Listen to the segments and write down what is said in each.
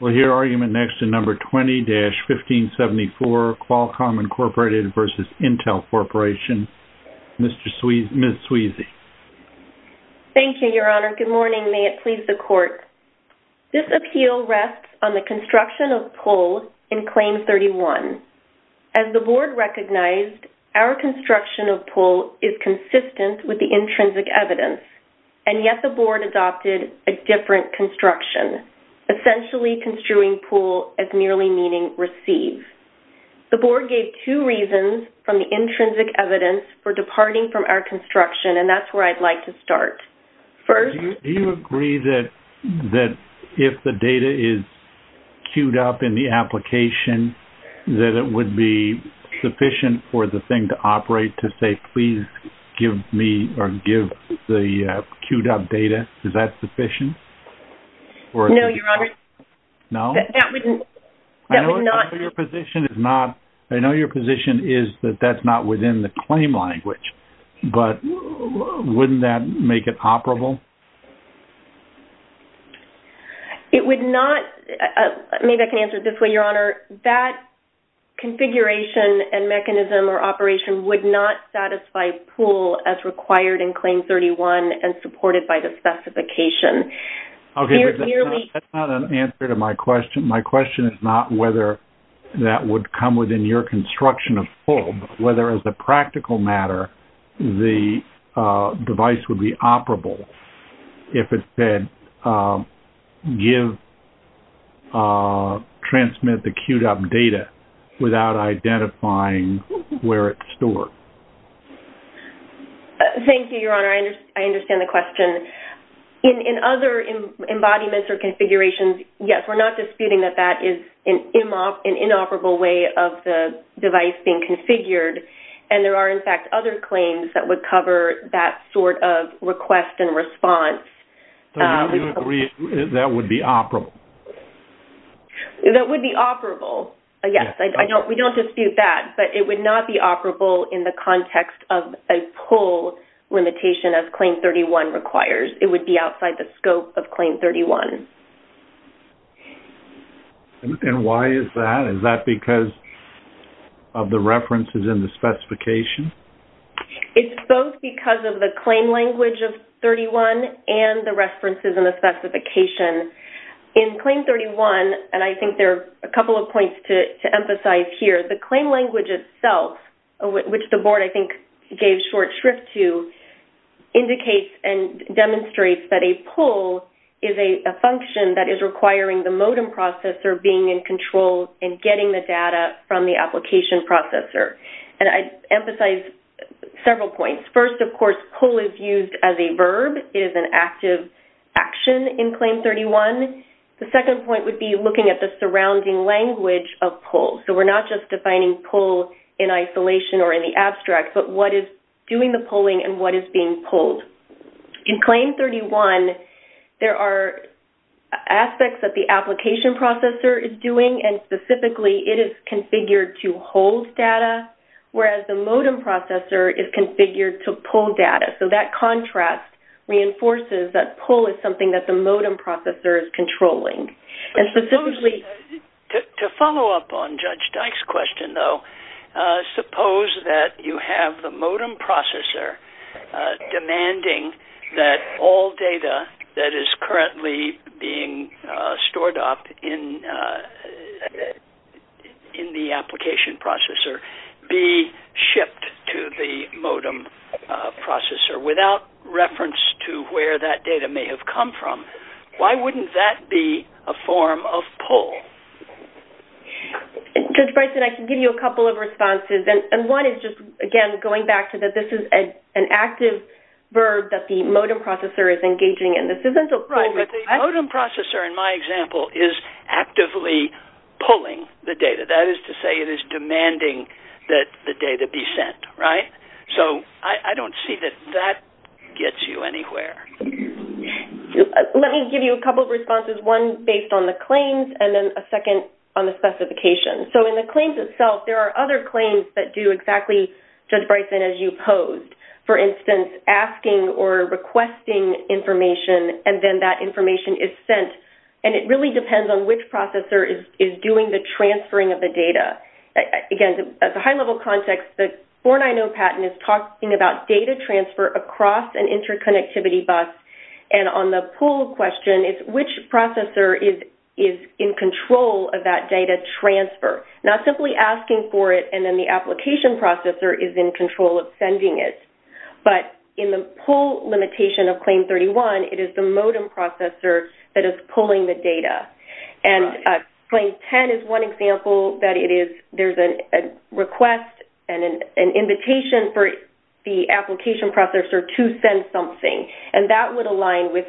We'll hear argument next in No. 20-1574, Qualcomm Incorporated v. Intel Corporation, Ms. Sweezy. Thank you, Your Honor. Good morning. May it please the Court. This appeal rests on the construction of pull in Claim 31. As the Board recognized, our construction of pull is consistent with the intrinsic evidence, and yet the Board adopted a different construction, essentially construing pull as merely meaning receive. The Board gave two reasons from the intrinsic evidence for departing from our construction, and that's where I'd like to start. Do you agree that if the data is queued up in the application, that it would be sufficient for the thing to operate to say, please give me or give the queued up data? Is that sufficient? No, Your Honor. No? That would not... I know your position is that that's not within the claim language, but wouldn't that make it operable? It would not... Maybe I can answer it this way, Your Honor. That configuration and mechanism or operation would not satisfy pull as required in Claim 31 and supported by the specification. Okay, but that's not an answer to my question. My question is not whether that would come within your construction of pull, but whether as a practical matter the device would be operable if it said give, transmit the queued up data without identifying where it's stored. Thank you, Your Honor. I understand the question. In other embodiments or configurations, yes, we're not disputing that that is an inoperable way of the device being configured, and there are, in fact, other claims that would cover that sort of request and response. So you agree that would be operable? That would be operable, yes. We don't dispute that, but it would not be operable in the context of a pull limitation as Claim 31 requires. It would be outside the scope of Claim 31. And why is that? Is that because of the references in the specification? It's both because of the claim language of 31 and the references in the specification. In Claim 31, and I think there are a couple of points to emphasize here, the claim language itself, which the Board, I think, gave short shrift to, indicates and demonstrates that a pull is a function that is requiring the modem processor being in control and getting the data from the application processor. And I'd emphasize several points. First, of course, pull is used as a verb. It is an active action in Claim 31. The second point would be looking at the surrounding language of pull. So we're not just defining pull in isolation or in the abstract, but what is doing the pulling and what is being pulled. In Claim 31, there are aspects that the application processor is doing, and specifically it is configured to hold data, whereas the modem processor is configured to pull data. So that contrast reinforces that pull is something that the modem processor is controlling. To follow up on Judge Dyke's question, though, suppose that you have the modem processor demanding that all data that is currently being stored up in the application processor be shipped to the modem processor without reference to where that data may have come from. Why wouldn't that be a form of pull? Judge Bryson, I can give you a couple of responses, and one is just, again, going back to that this is an active verb that the modem processor is engaging in. Right, but the modem processor, in my example, is actively pulling the data. That is to say it is demanding that the data be sent, right? So I don't see that that gets you anywhere. Let me give you a couple of responses, one based on the claims and then a second on the specifications. So in the claims itself, there are other claims that do exactly, Judge Bryson, as you posed. For instance, asking or requesting information and then that information is sent, and it really depends on which processor is doing the transferring of the data. Again, at the high-level context, the 490 patent is talking about data transfer across an interconnectivity bus, and on the pull question, it's which processor is in control of that data transfer. Not simply asking for it and then the application processor is in control of sending it, but in the pull limitation of Claim 31, it is the modem processor that is pulling the data. Claim 10 is one example that there is a request and an invitation for the application processor to send something, and that would align with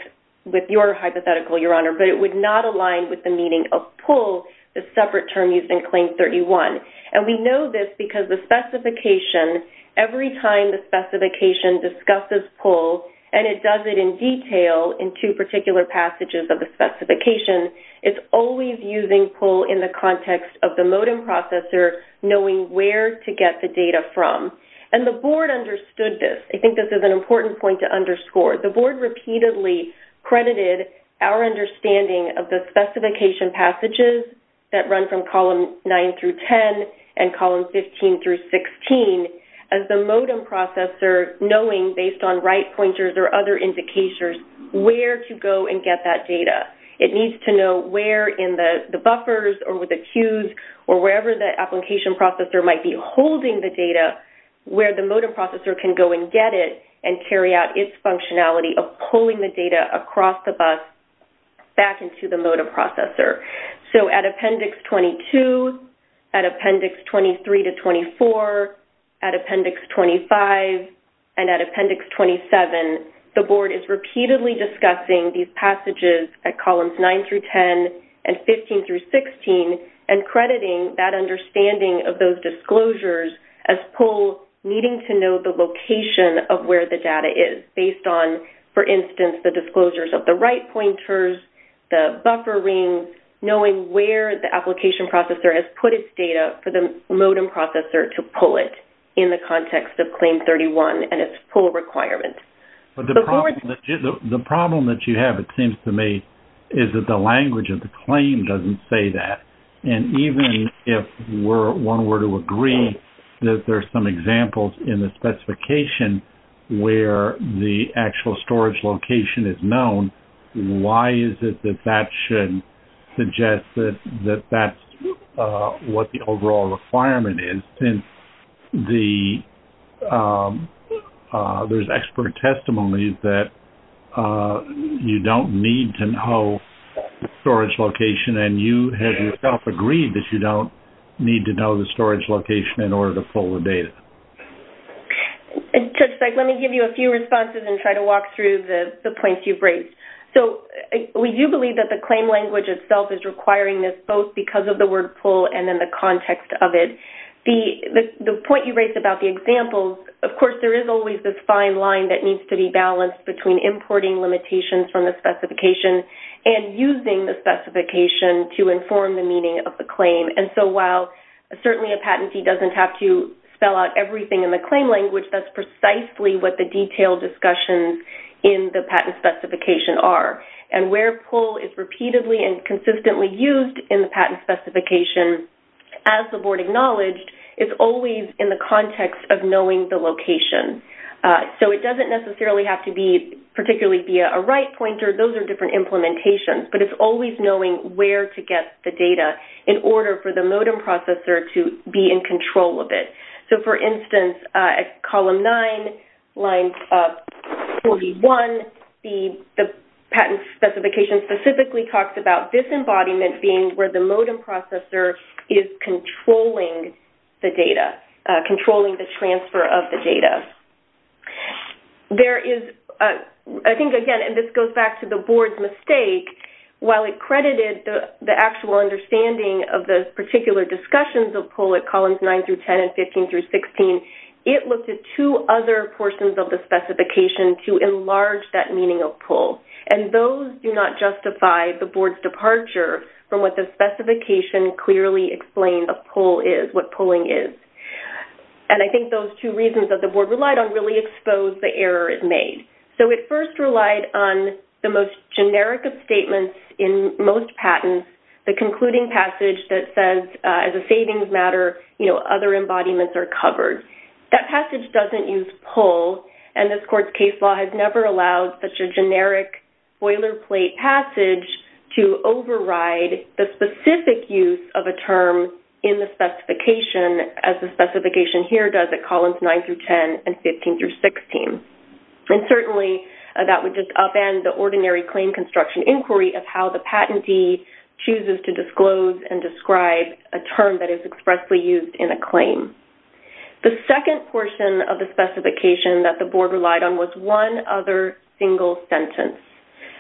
your hypothetical, Your Honor, but it would not align with the meaning of pull, the separate term used in Claim 31. We know this because the specification, every time the specification discusses pull, and it does it in detail in two particular passages of the specification, it's always using pull in the context of the modem processor knowing where to get the data from, and the Board understood this. I think this is an important point to underscore. The Board repeatedly credited our understanding of the specification passages that run from column 9 through 10 and column 15 through 16 as the modem processor knowing, based on right pointers or other indicators, where to go and get that data. It needs to know where in the buffers or with the queues or wherever the application processor might be holding the data, where the modem processor can go and get it and carry out its functionality of pulling the data across the bus back into the modem processor. At Appendix 22, at Appendix 23 to 24, at Appendix 25, and at Appendix 27, the Board is repeatedly discussing these passages at columns 9 through 10 and 15 through 16 and crediting that understanding of those disclosures as pull, needing to know the location of where the data is, based on, for instance, the disclosures of the right pointers, the buffer rings, knowing where the application processor has put its data for the modem processor to pull it in the context of Claim 31 and its pull requirement. The problem that you have, it seems to me, is that the language of the claim doesn't say that. And even if one were to agree that there are some examples in the specification where the actual storage location is known, why is it that that should suggest that that's what the overall requirement is? There's expert testimony that you don't need to know the storage location and you have yourself agreed that you don't need to know the storage location in order to pull the data. Let me give you a few responses and try to walk through the points you've raised. We do believe that the claim language itself is requiring this, both because of the word pull and in the context of it. The point you raised about the examples, of course, there is always this fine line that needs to be balanced between importing limitations from the specification and using the specification to inform the meaning of the claim. And so while certainly a patentee doesn't have to spell out everything in the claim language, that's precisely what the detailed discussions in the patent specification are. And where pull is repeatedly and consistently used in the patent specification, as the Board acknowledged, it's always in the context of knowing the location. So it doesn't necessarily have to be particularly via a right pointer. Those are different implementations, but it's always knowing where to get the data in order for the modem processor to be in control of it. So, for instance, at column 9, line 41, the patent specification specifically talks about this embodiment being where the modem processor is controlling the data, controlling the transfer of the data. There is, I think, again, and this goes back to the Board's mistake, while it credited the actual understanding of the particular discussions of pull at columns 9 through 10 and 15 through 16, it looked at two other portions of the specification to enlarge that meaning of pull. And those do not justify the Board's departure from what the specification clearly explains of pull is, what pulling is. And I think those two reasons that the Board relied on really expose the error it made. So it first relied on the most generic of statements in most patents, the concluding passage that says, as a savings matter, other embodiments are covered. That passage doesn't use pull, and this Court's case law has never allowed such a generic boilerplate passage to override the specific use of a term in the specification as the specification here does at columns 9 through 10 and 15 through 16. And certainly, that would just upend the ordinary claim construction inquiry of how the patentee chooses to disclose and describe a term that is expressly used in a claim. The second portion of the specification that the Board relied on was one other single sentence.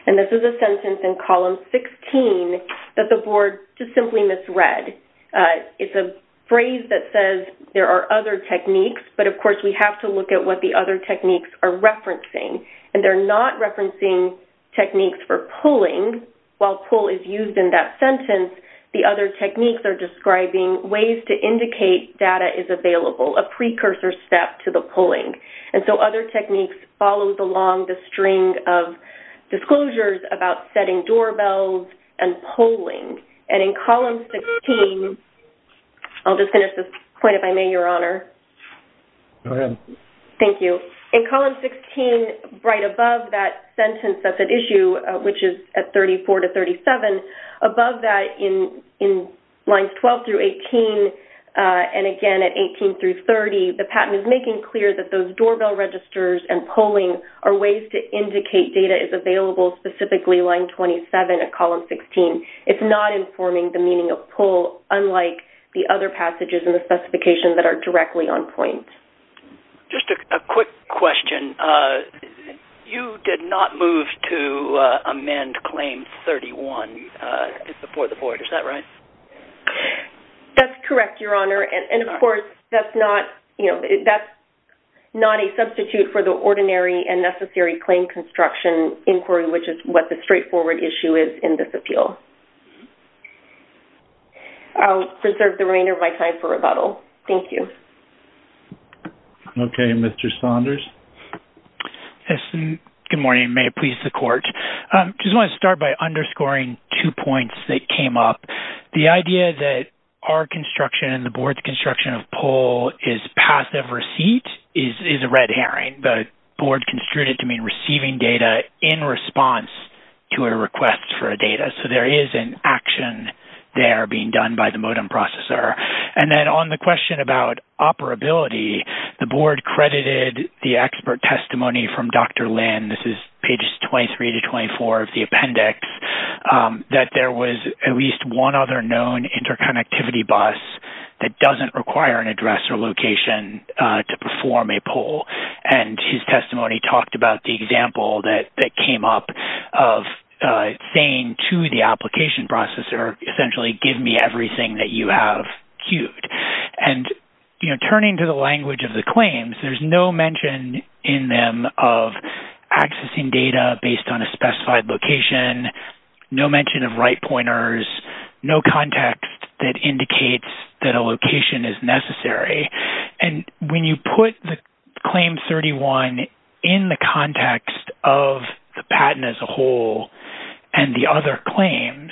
And this is a sentence in column 16 that the Board just simply misread. It's a phrase that says there are other techniques, but of course, we have to look at what the other techniques are referencing. And they're not referencing techniques for pulling. While pull is used in that sentence, the other techniques are describing ways to indicate data is available, a precursor step to the pulling. And so other techniques follow along the string of disclosures about setting doorbells and pulling. And in column 16, I'll just finish this point if I may, Your Honor. Go ahead. Thank you. In column 16, right above that sentence that's at issue, which is at 34 to 37, above that in lines 12 through 18, and again at 18 through 30, the patent is making clear that those doorbell registers and pulling are ways to indicate data is available, specifically line 27 at column 16. It's not informing the meaning of pull unlike the other passages in the specification that are directly on point. Just a quick question. You did not move to amend claim 31 for the Board. Is that right? That's correct, Your Honor. And, of course, that's not a substitute for the ordinary and necessary claim construction inquiry, which is what the straightforward issue is in this appeal. I'll reserve the remainder of my time for rebuttal. Thank you. Okay. Mr. Saunders? Yes. Good morning. May it please the Court. I just want to start by underscoring two points that came up. The idea that our construction and the Board's construction of pull is passive receipt is a red herring. I think the Board construed it to mean receiving data in response to a request for a data. So there is an action there being done by the modem processor. And then on the question about operability, the Board credited the expert testimony from Dr. Lynn, this is pages 23 to 24 of the appendix, that there was at least one other known interconnectivity bus that doesn't require an address or location to perform a pull. And his testimony talked about the example that came up of saying to the application processor, essentially, give me everything that you have queued. And, you know, turning to the language of the claims, there's no mention in them of accessing data based on a specified location, no mention of right pointers, no context that indicates that a location is necessary. And when you put the Claim 31 in the context of the patent as a whole and the other claims,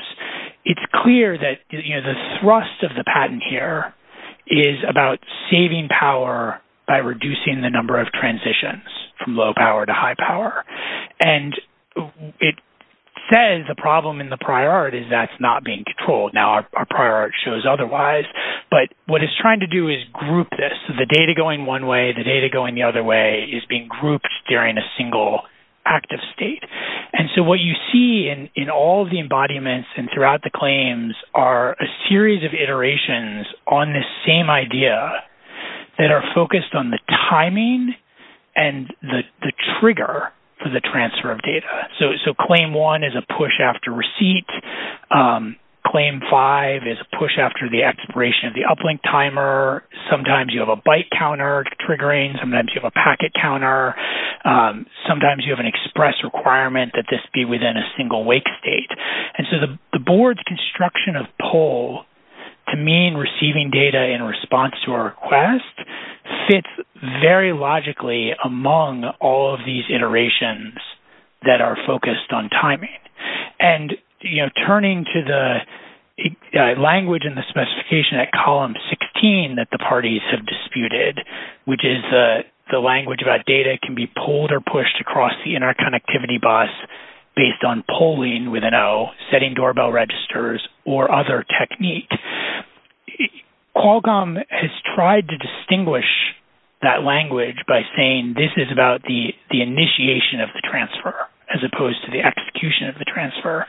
it's clear that, you know, the thrust of the patent here is about saving power by reducing the number of transitions from low power to high power. And it says the problem in the prior art is that's not being controlled. Now, our prior art shows otherwise, but what it's trying to do is group this. So the data going one way, the data going the other way is being grouped during a single active state. And so what you see in all of the embodiments and throughout the claims are a series of iterations on this same idea that are focused on the timing and the trigger for the transfer of data. So Claim 1 is a push after receipt. Claim 5 is a push after the expiration of the uplink timer. Sometimes you have a byte counter triggering. Sometimes you have a packet counter. Sometimes you have an express requirement that this be within a single wake state. And so the board's construction of pull to mean receiving data in response to a request fits very logically among all of these iterations that are focused on timing. And, you know, turning to the language and the specification at column 16 that the parties have disputed, which is the language about data can be pulled or pushed across the interconnectivity bus based on polling with an O, setting doorbell registers, or other technique. Qualcomm has tried to distinguish that language by saying this is about the initiation of the transfer as opposed to the execution of the transfer.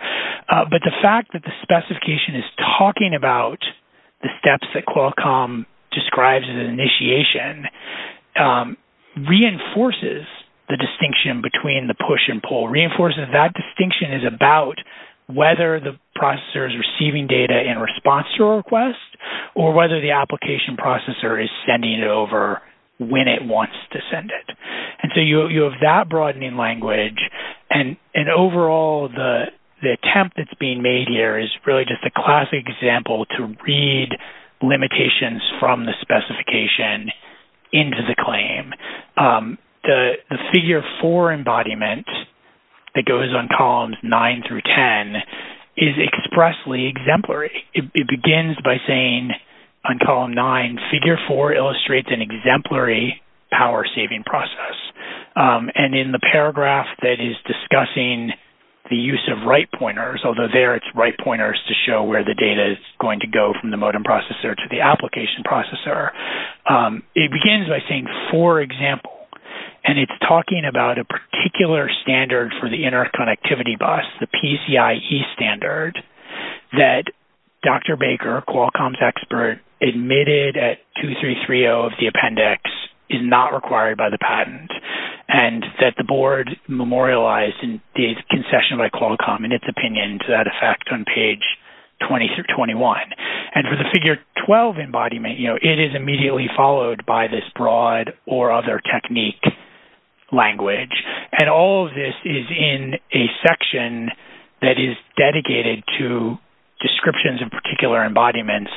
But the fact that the specification is talking about the steps that Qualcomm describes as initiation reinforces the distinction between the push and pull, reinforces that distinction is about whether the processor is receiving data in response to a request or whether the application processor is sending it over when it wants to send it. And so you have that broadening language. And overall, the attempt that's being made here is really just a classic example to read limitations from the specification into the claim. The figure 4 embodiment that goes on columns 9 through 10 is expressly exemplary. It begins by saying on column 9, figure 4 illustrates an exemplary power saving process. And in the paragraph that is discussing the use of right pointers, although there it's right pointers to show where the data is going to go from the modem processor to the application processor, it begins by saying, for example, and it's talking about a particular standard for the interconnectivity bus, the PCIE standard that Dr. Baker, Qualcomm's expert, admitted at 2330 of the appendix is not required by the patent and that the board memorialized in the concession by Qualcomm in its opinion to that effect on page 20 through 21. And for the figure 12 embodiment, it is immediately followed by this broad or other technique language. And all of this is in a section that is dedicated to descriptions of particular embodiments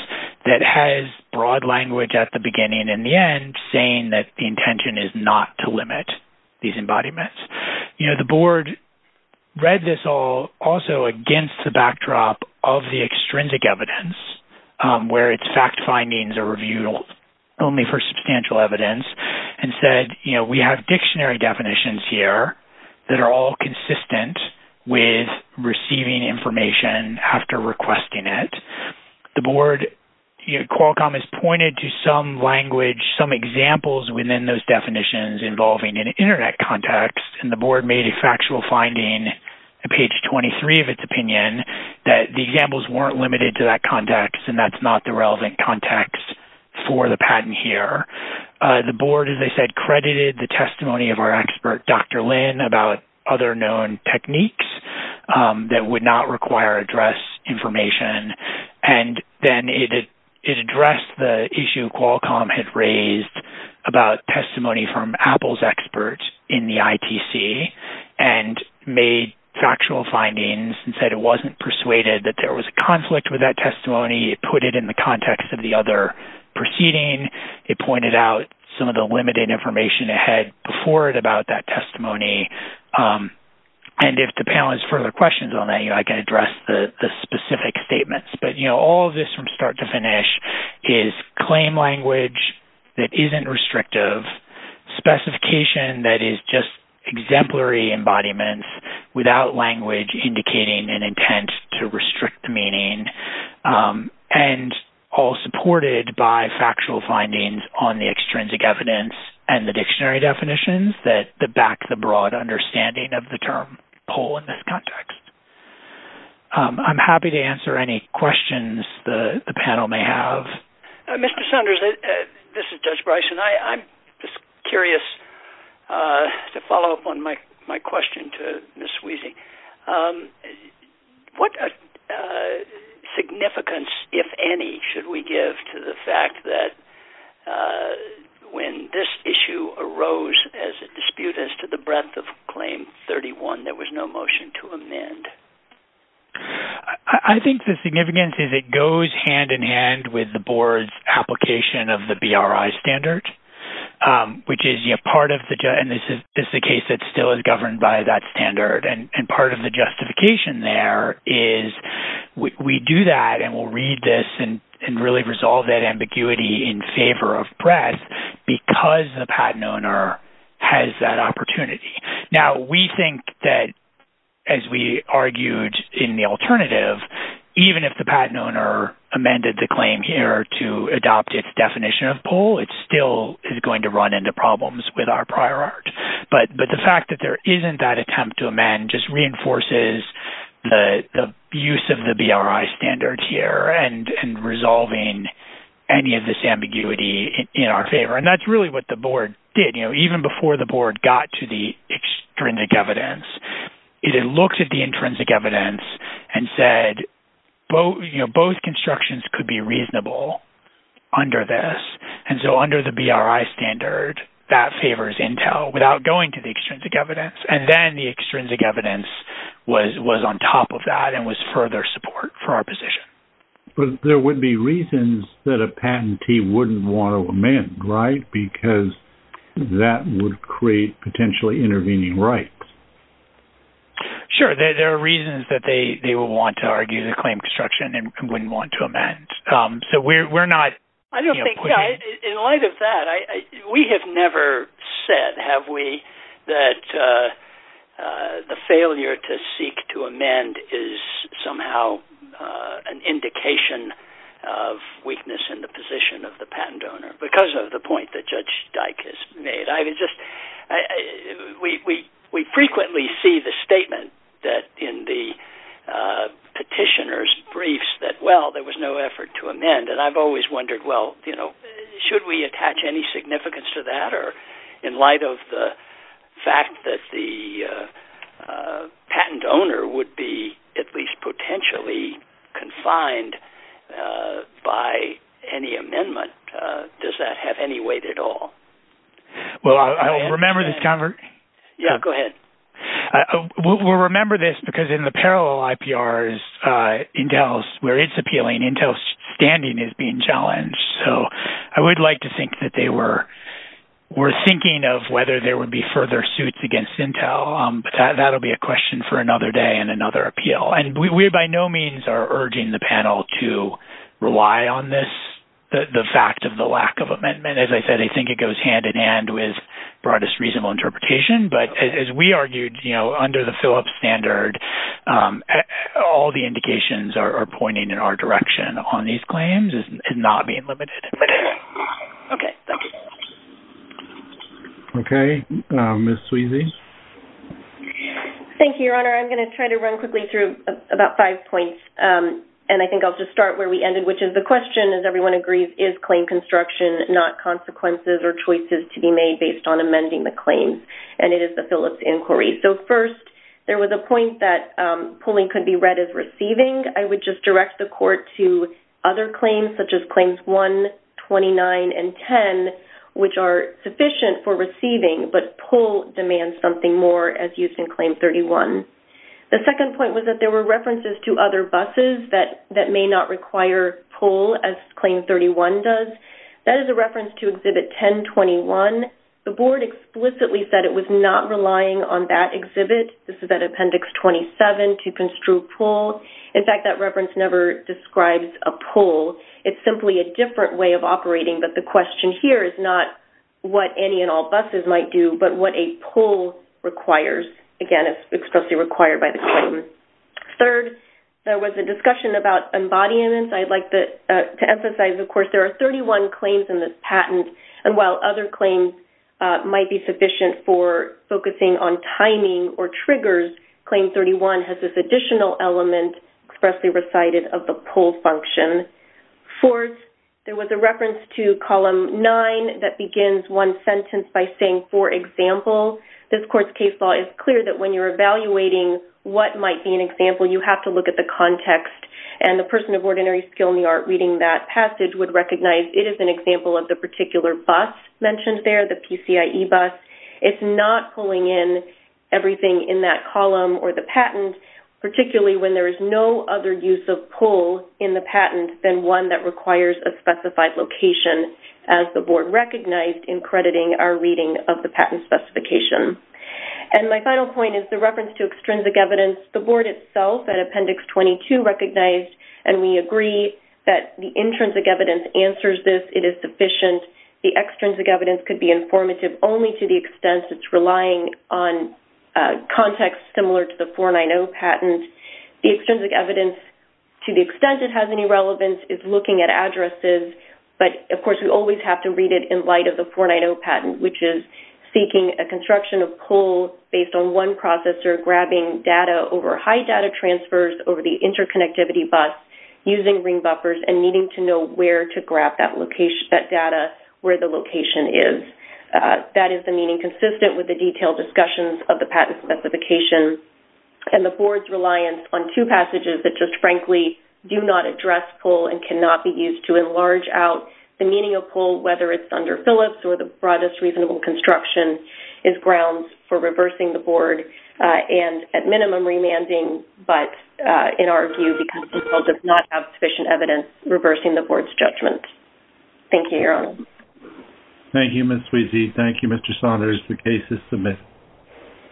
that has broad language at the beginning and the end saying that the intention is not to limit these embodiments. You know, the board read this all also against the backdrop of the extrinsic evidence where its fact findings are reviewed only for substantial evidence and said, you know, we have dictionary definitions here that are all consistent with receiving information after requesting it. The board, you know, Qualcomm has pointed to some language, some examples within those definitions involving an Internet context and the board made a factual finding at page 23 of its opinion that the examples weren't limited to that context and that's not the relevant context for the patent here. The board, as I said, credited the testimony of our expert, Dr. Lin, about other known techniques that would not require address information. And then it addressed the issue Qualcomm had raised about testimony from Apple's experts in the ITC and made factual findings and said it wasn't persuaded that there was a conflict with that testimony. It put it in the context of the other proceeding. It pointed out some of the limited information ahead before it about that testimony. And if the panel has further questions on that, you know, I can address the specific statements. But, you know, all of this from start to finish is claim language that isn't restrictive, specification that is just exemplary embodiment without language indicating an intent to restrict the meaning, and all supported by factual findings on the extrinsic evidence and the dictionary definitions that back the broad understanding of the term whole in this context. I'm happy to answer any questions the panel may have. Mr. Saunders, this is Judge Bryson. I'm just curious to follow up on my question to Ms. Wiese. What significance, if any, should we give to the fact that when this issue arose as a dispute as to the breadth of Claim 31, there was no motion to amend? I think the significance is it goes hand in hand with the board's application of the BRI standard, which is part of the—and this is the case that still is governed by that standard. And part of the justification there is we do that and we'll read this and really resolve that ambiguity in favor of breadth because the patent owner has that opportunity. Now, we think that, as we argued in the alternative, even if the patent owner amended the claim here to adopt its definition of pull, it still is going to run into problems with our prior art. But the fact that there isn't that attempt to amend just reinforces the use of the BRI standard here and resolving any of this ambiguity in our favor. And that's really what the board did. Even before the board got to the extrinsic evidence, it had looked at the intrinsic evidence and said both constructions could be reasonable under this. And so under the BRI standard, that favors Intel without going to the extrinsic evidence. And then the extrinsic evidence was on top of that and was further support for our position. But there would be reasons that a patentee wouldn't want to amend, right? Because that would create potentially intervening rights. Sure. There are reasons that they would want to argue the claim construction and wouldn't want to amend. In light of that, we have never said, have we, that the failure to seek to amend is somehow an indication of weakness in the position of the patent owner because of the point that Judge Dyck has made. We frequently see the statement that in the petitioner's briefs that, well, there was no effort to amend. And I've always wondered, well, should we attach any significance to that? Or in light of the fact that the patent owner would be at least potentially confined by any amendment, does that have any weight at all? Well, I'll remember this, Convert. Yeah, go ahead. We'll remember this because in the parallel IPRs, Intel's, where it's appealing, Intel's standing is being challenged. So I would like to think that they were thinking of whether there would be further suits against Intel. But that will be a question for another day and another appeal. And we by no means are urging the panel to rely on this, the fact of the lack of amendment. As I said, I think it goes hand-in-hand with broadest reasonable interpretation. But as we argued, you know, under the fill-up standard, all the indications are pointing in our direction on these claims as not being limited. Okay. Okay. Ms. Sweezy? Thank you, Your Honor. I'm going to try to run quickly through about five points. And I think I'll just start where we ended, which is the question, as everyone agrees, is claim construction not consequences or choices to be made based on amending the claims? And it is the Phillips inquiry. So first, there was a point that pulling could be read as receiving. I would just direct the Court to other claims, such as Claims 1, 29, and 10, which are sufficient for receiving, but pull demands something more, as used in Claim 31. The second point was that there were references to other buses that may not require pull, as Claim 31 does. That is a reference to Exhibit 1021. The Board explicitly said it was not relying on that exhibit. This is at Appendix 27, to construe pull. In fact, that reference never describes a pull. It's simply a different way of operating. But the question here is not what any and all buses might do, but what a pull requires. Again, it's expressly required by the claim. Third, there was a discussion about embodiments. I'd like to emphasize, of course, there are 31 claims in this patent, and while other claims might be sufficient for focusing on timing or triggers, Claim 31 has this additional element expressly recited of the pull function. Fourth, there was a reference to Column 9 that begins one sentence by saying, For example, this court's case law is clear that when you're evaluating what might be an example, you have to look at the context. The person of ordinary skill in the art reading that passage would recognize it is an example of the particular bus mentioned there, the PCIE bus. It's not pulling in everything in that column or the patent, particularly when there is no other use of pull in the patent than one that requires a specified location, as the board recognized in crediting our reading of the patent specification. My final point is the reference to extrinsic evidence. The board itself at Appendix 22 recognized, and we agree, that the intrinsic evidence answers this. It is sufficient. The extrinsic evidence could be informative only to the extent it's relying on context similar to the 490 patent. The extrinsic evidence, to the extent it has any relevance, is looking at addresses. Of course, we always have to read it in light of the 490 patent, which is seeking a construction of pull based on one processor, grabbing data over high data transfers, over the interconnectivity bus, using ring buffers, and needing to know where to grab that data, where the location is. That is the meaning consistent with the detailed discussions of the patent specification. The board's reliance on two passages that just frankly do not address pull and cannot be used to enlarge out the meaning of pull, whether it's under Phillips or the broadest reasonable construction, is grounds for reversing the board, and at minimum remanding, but in our view, because the board does not have sufficient evidence, reversing the board's judgment. Thank you, Your Honor. Thank you, Ms. Sweezy. Thank you, Mr. Saunders. The case is submitted.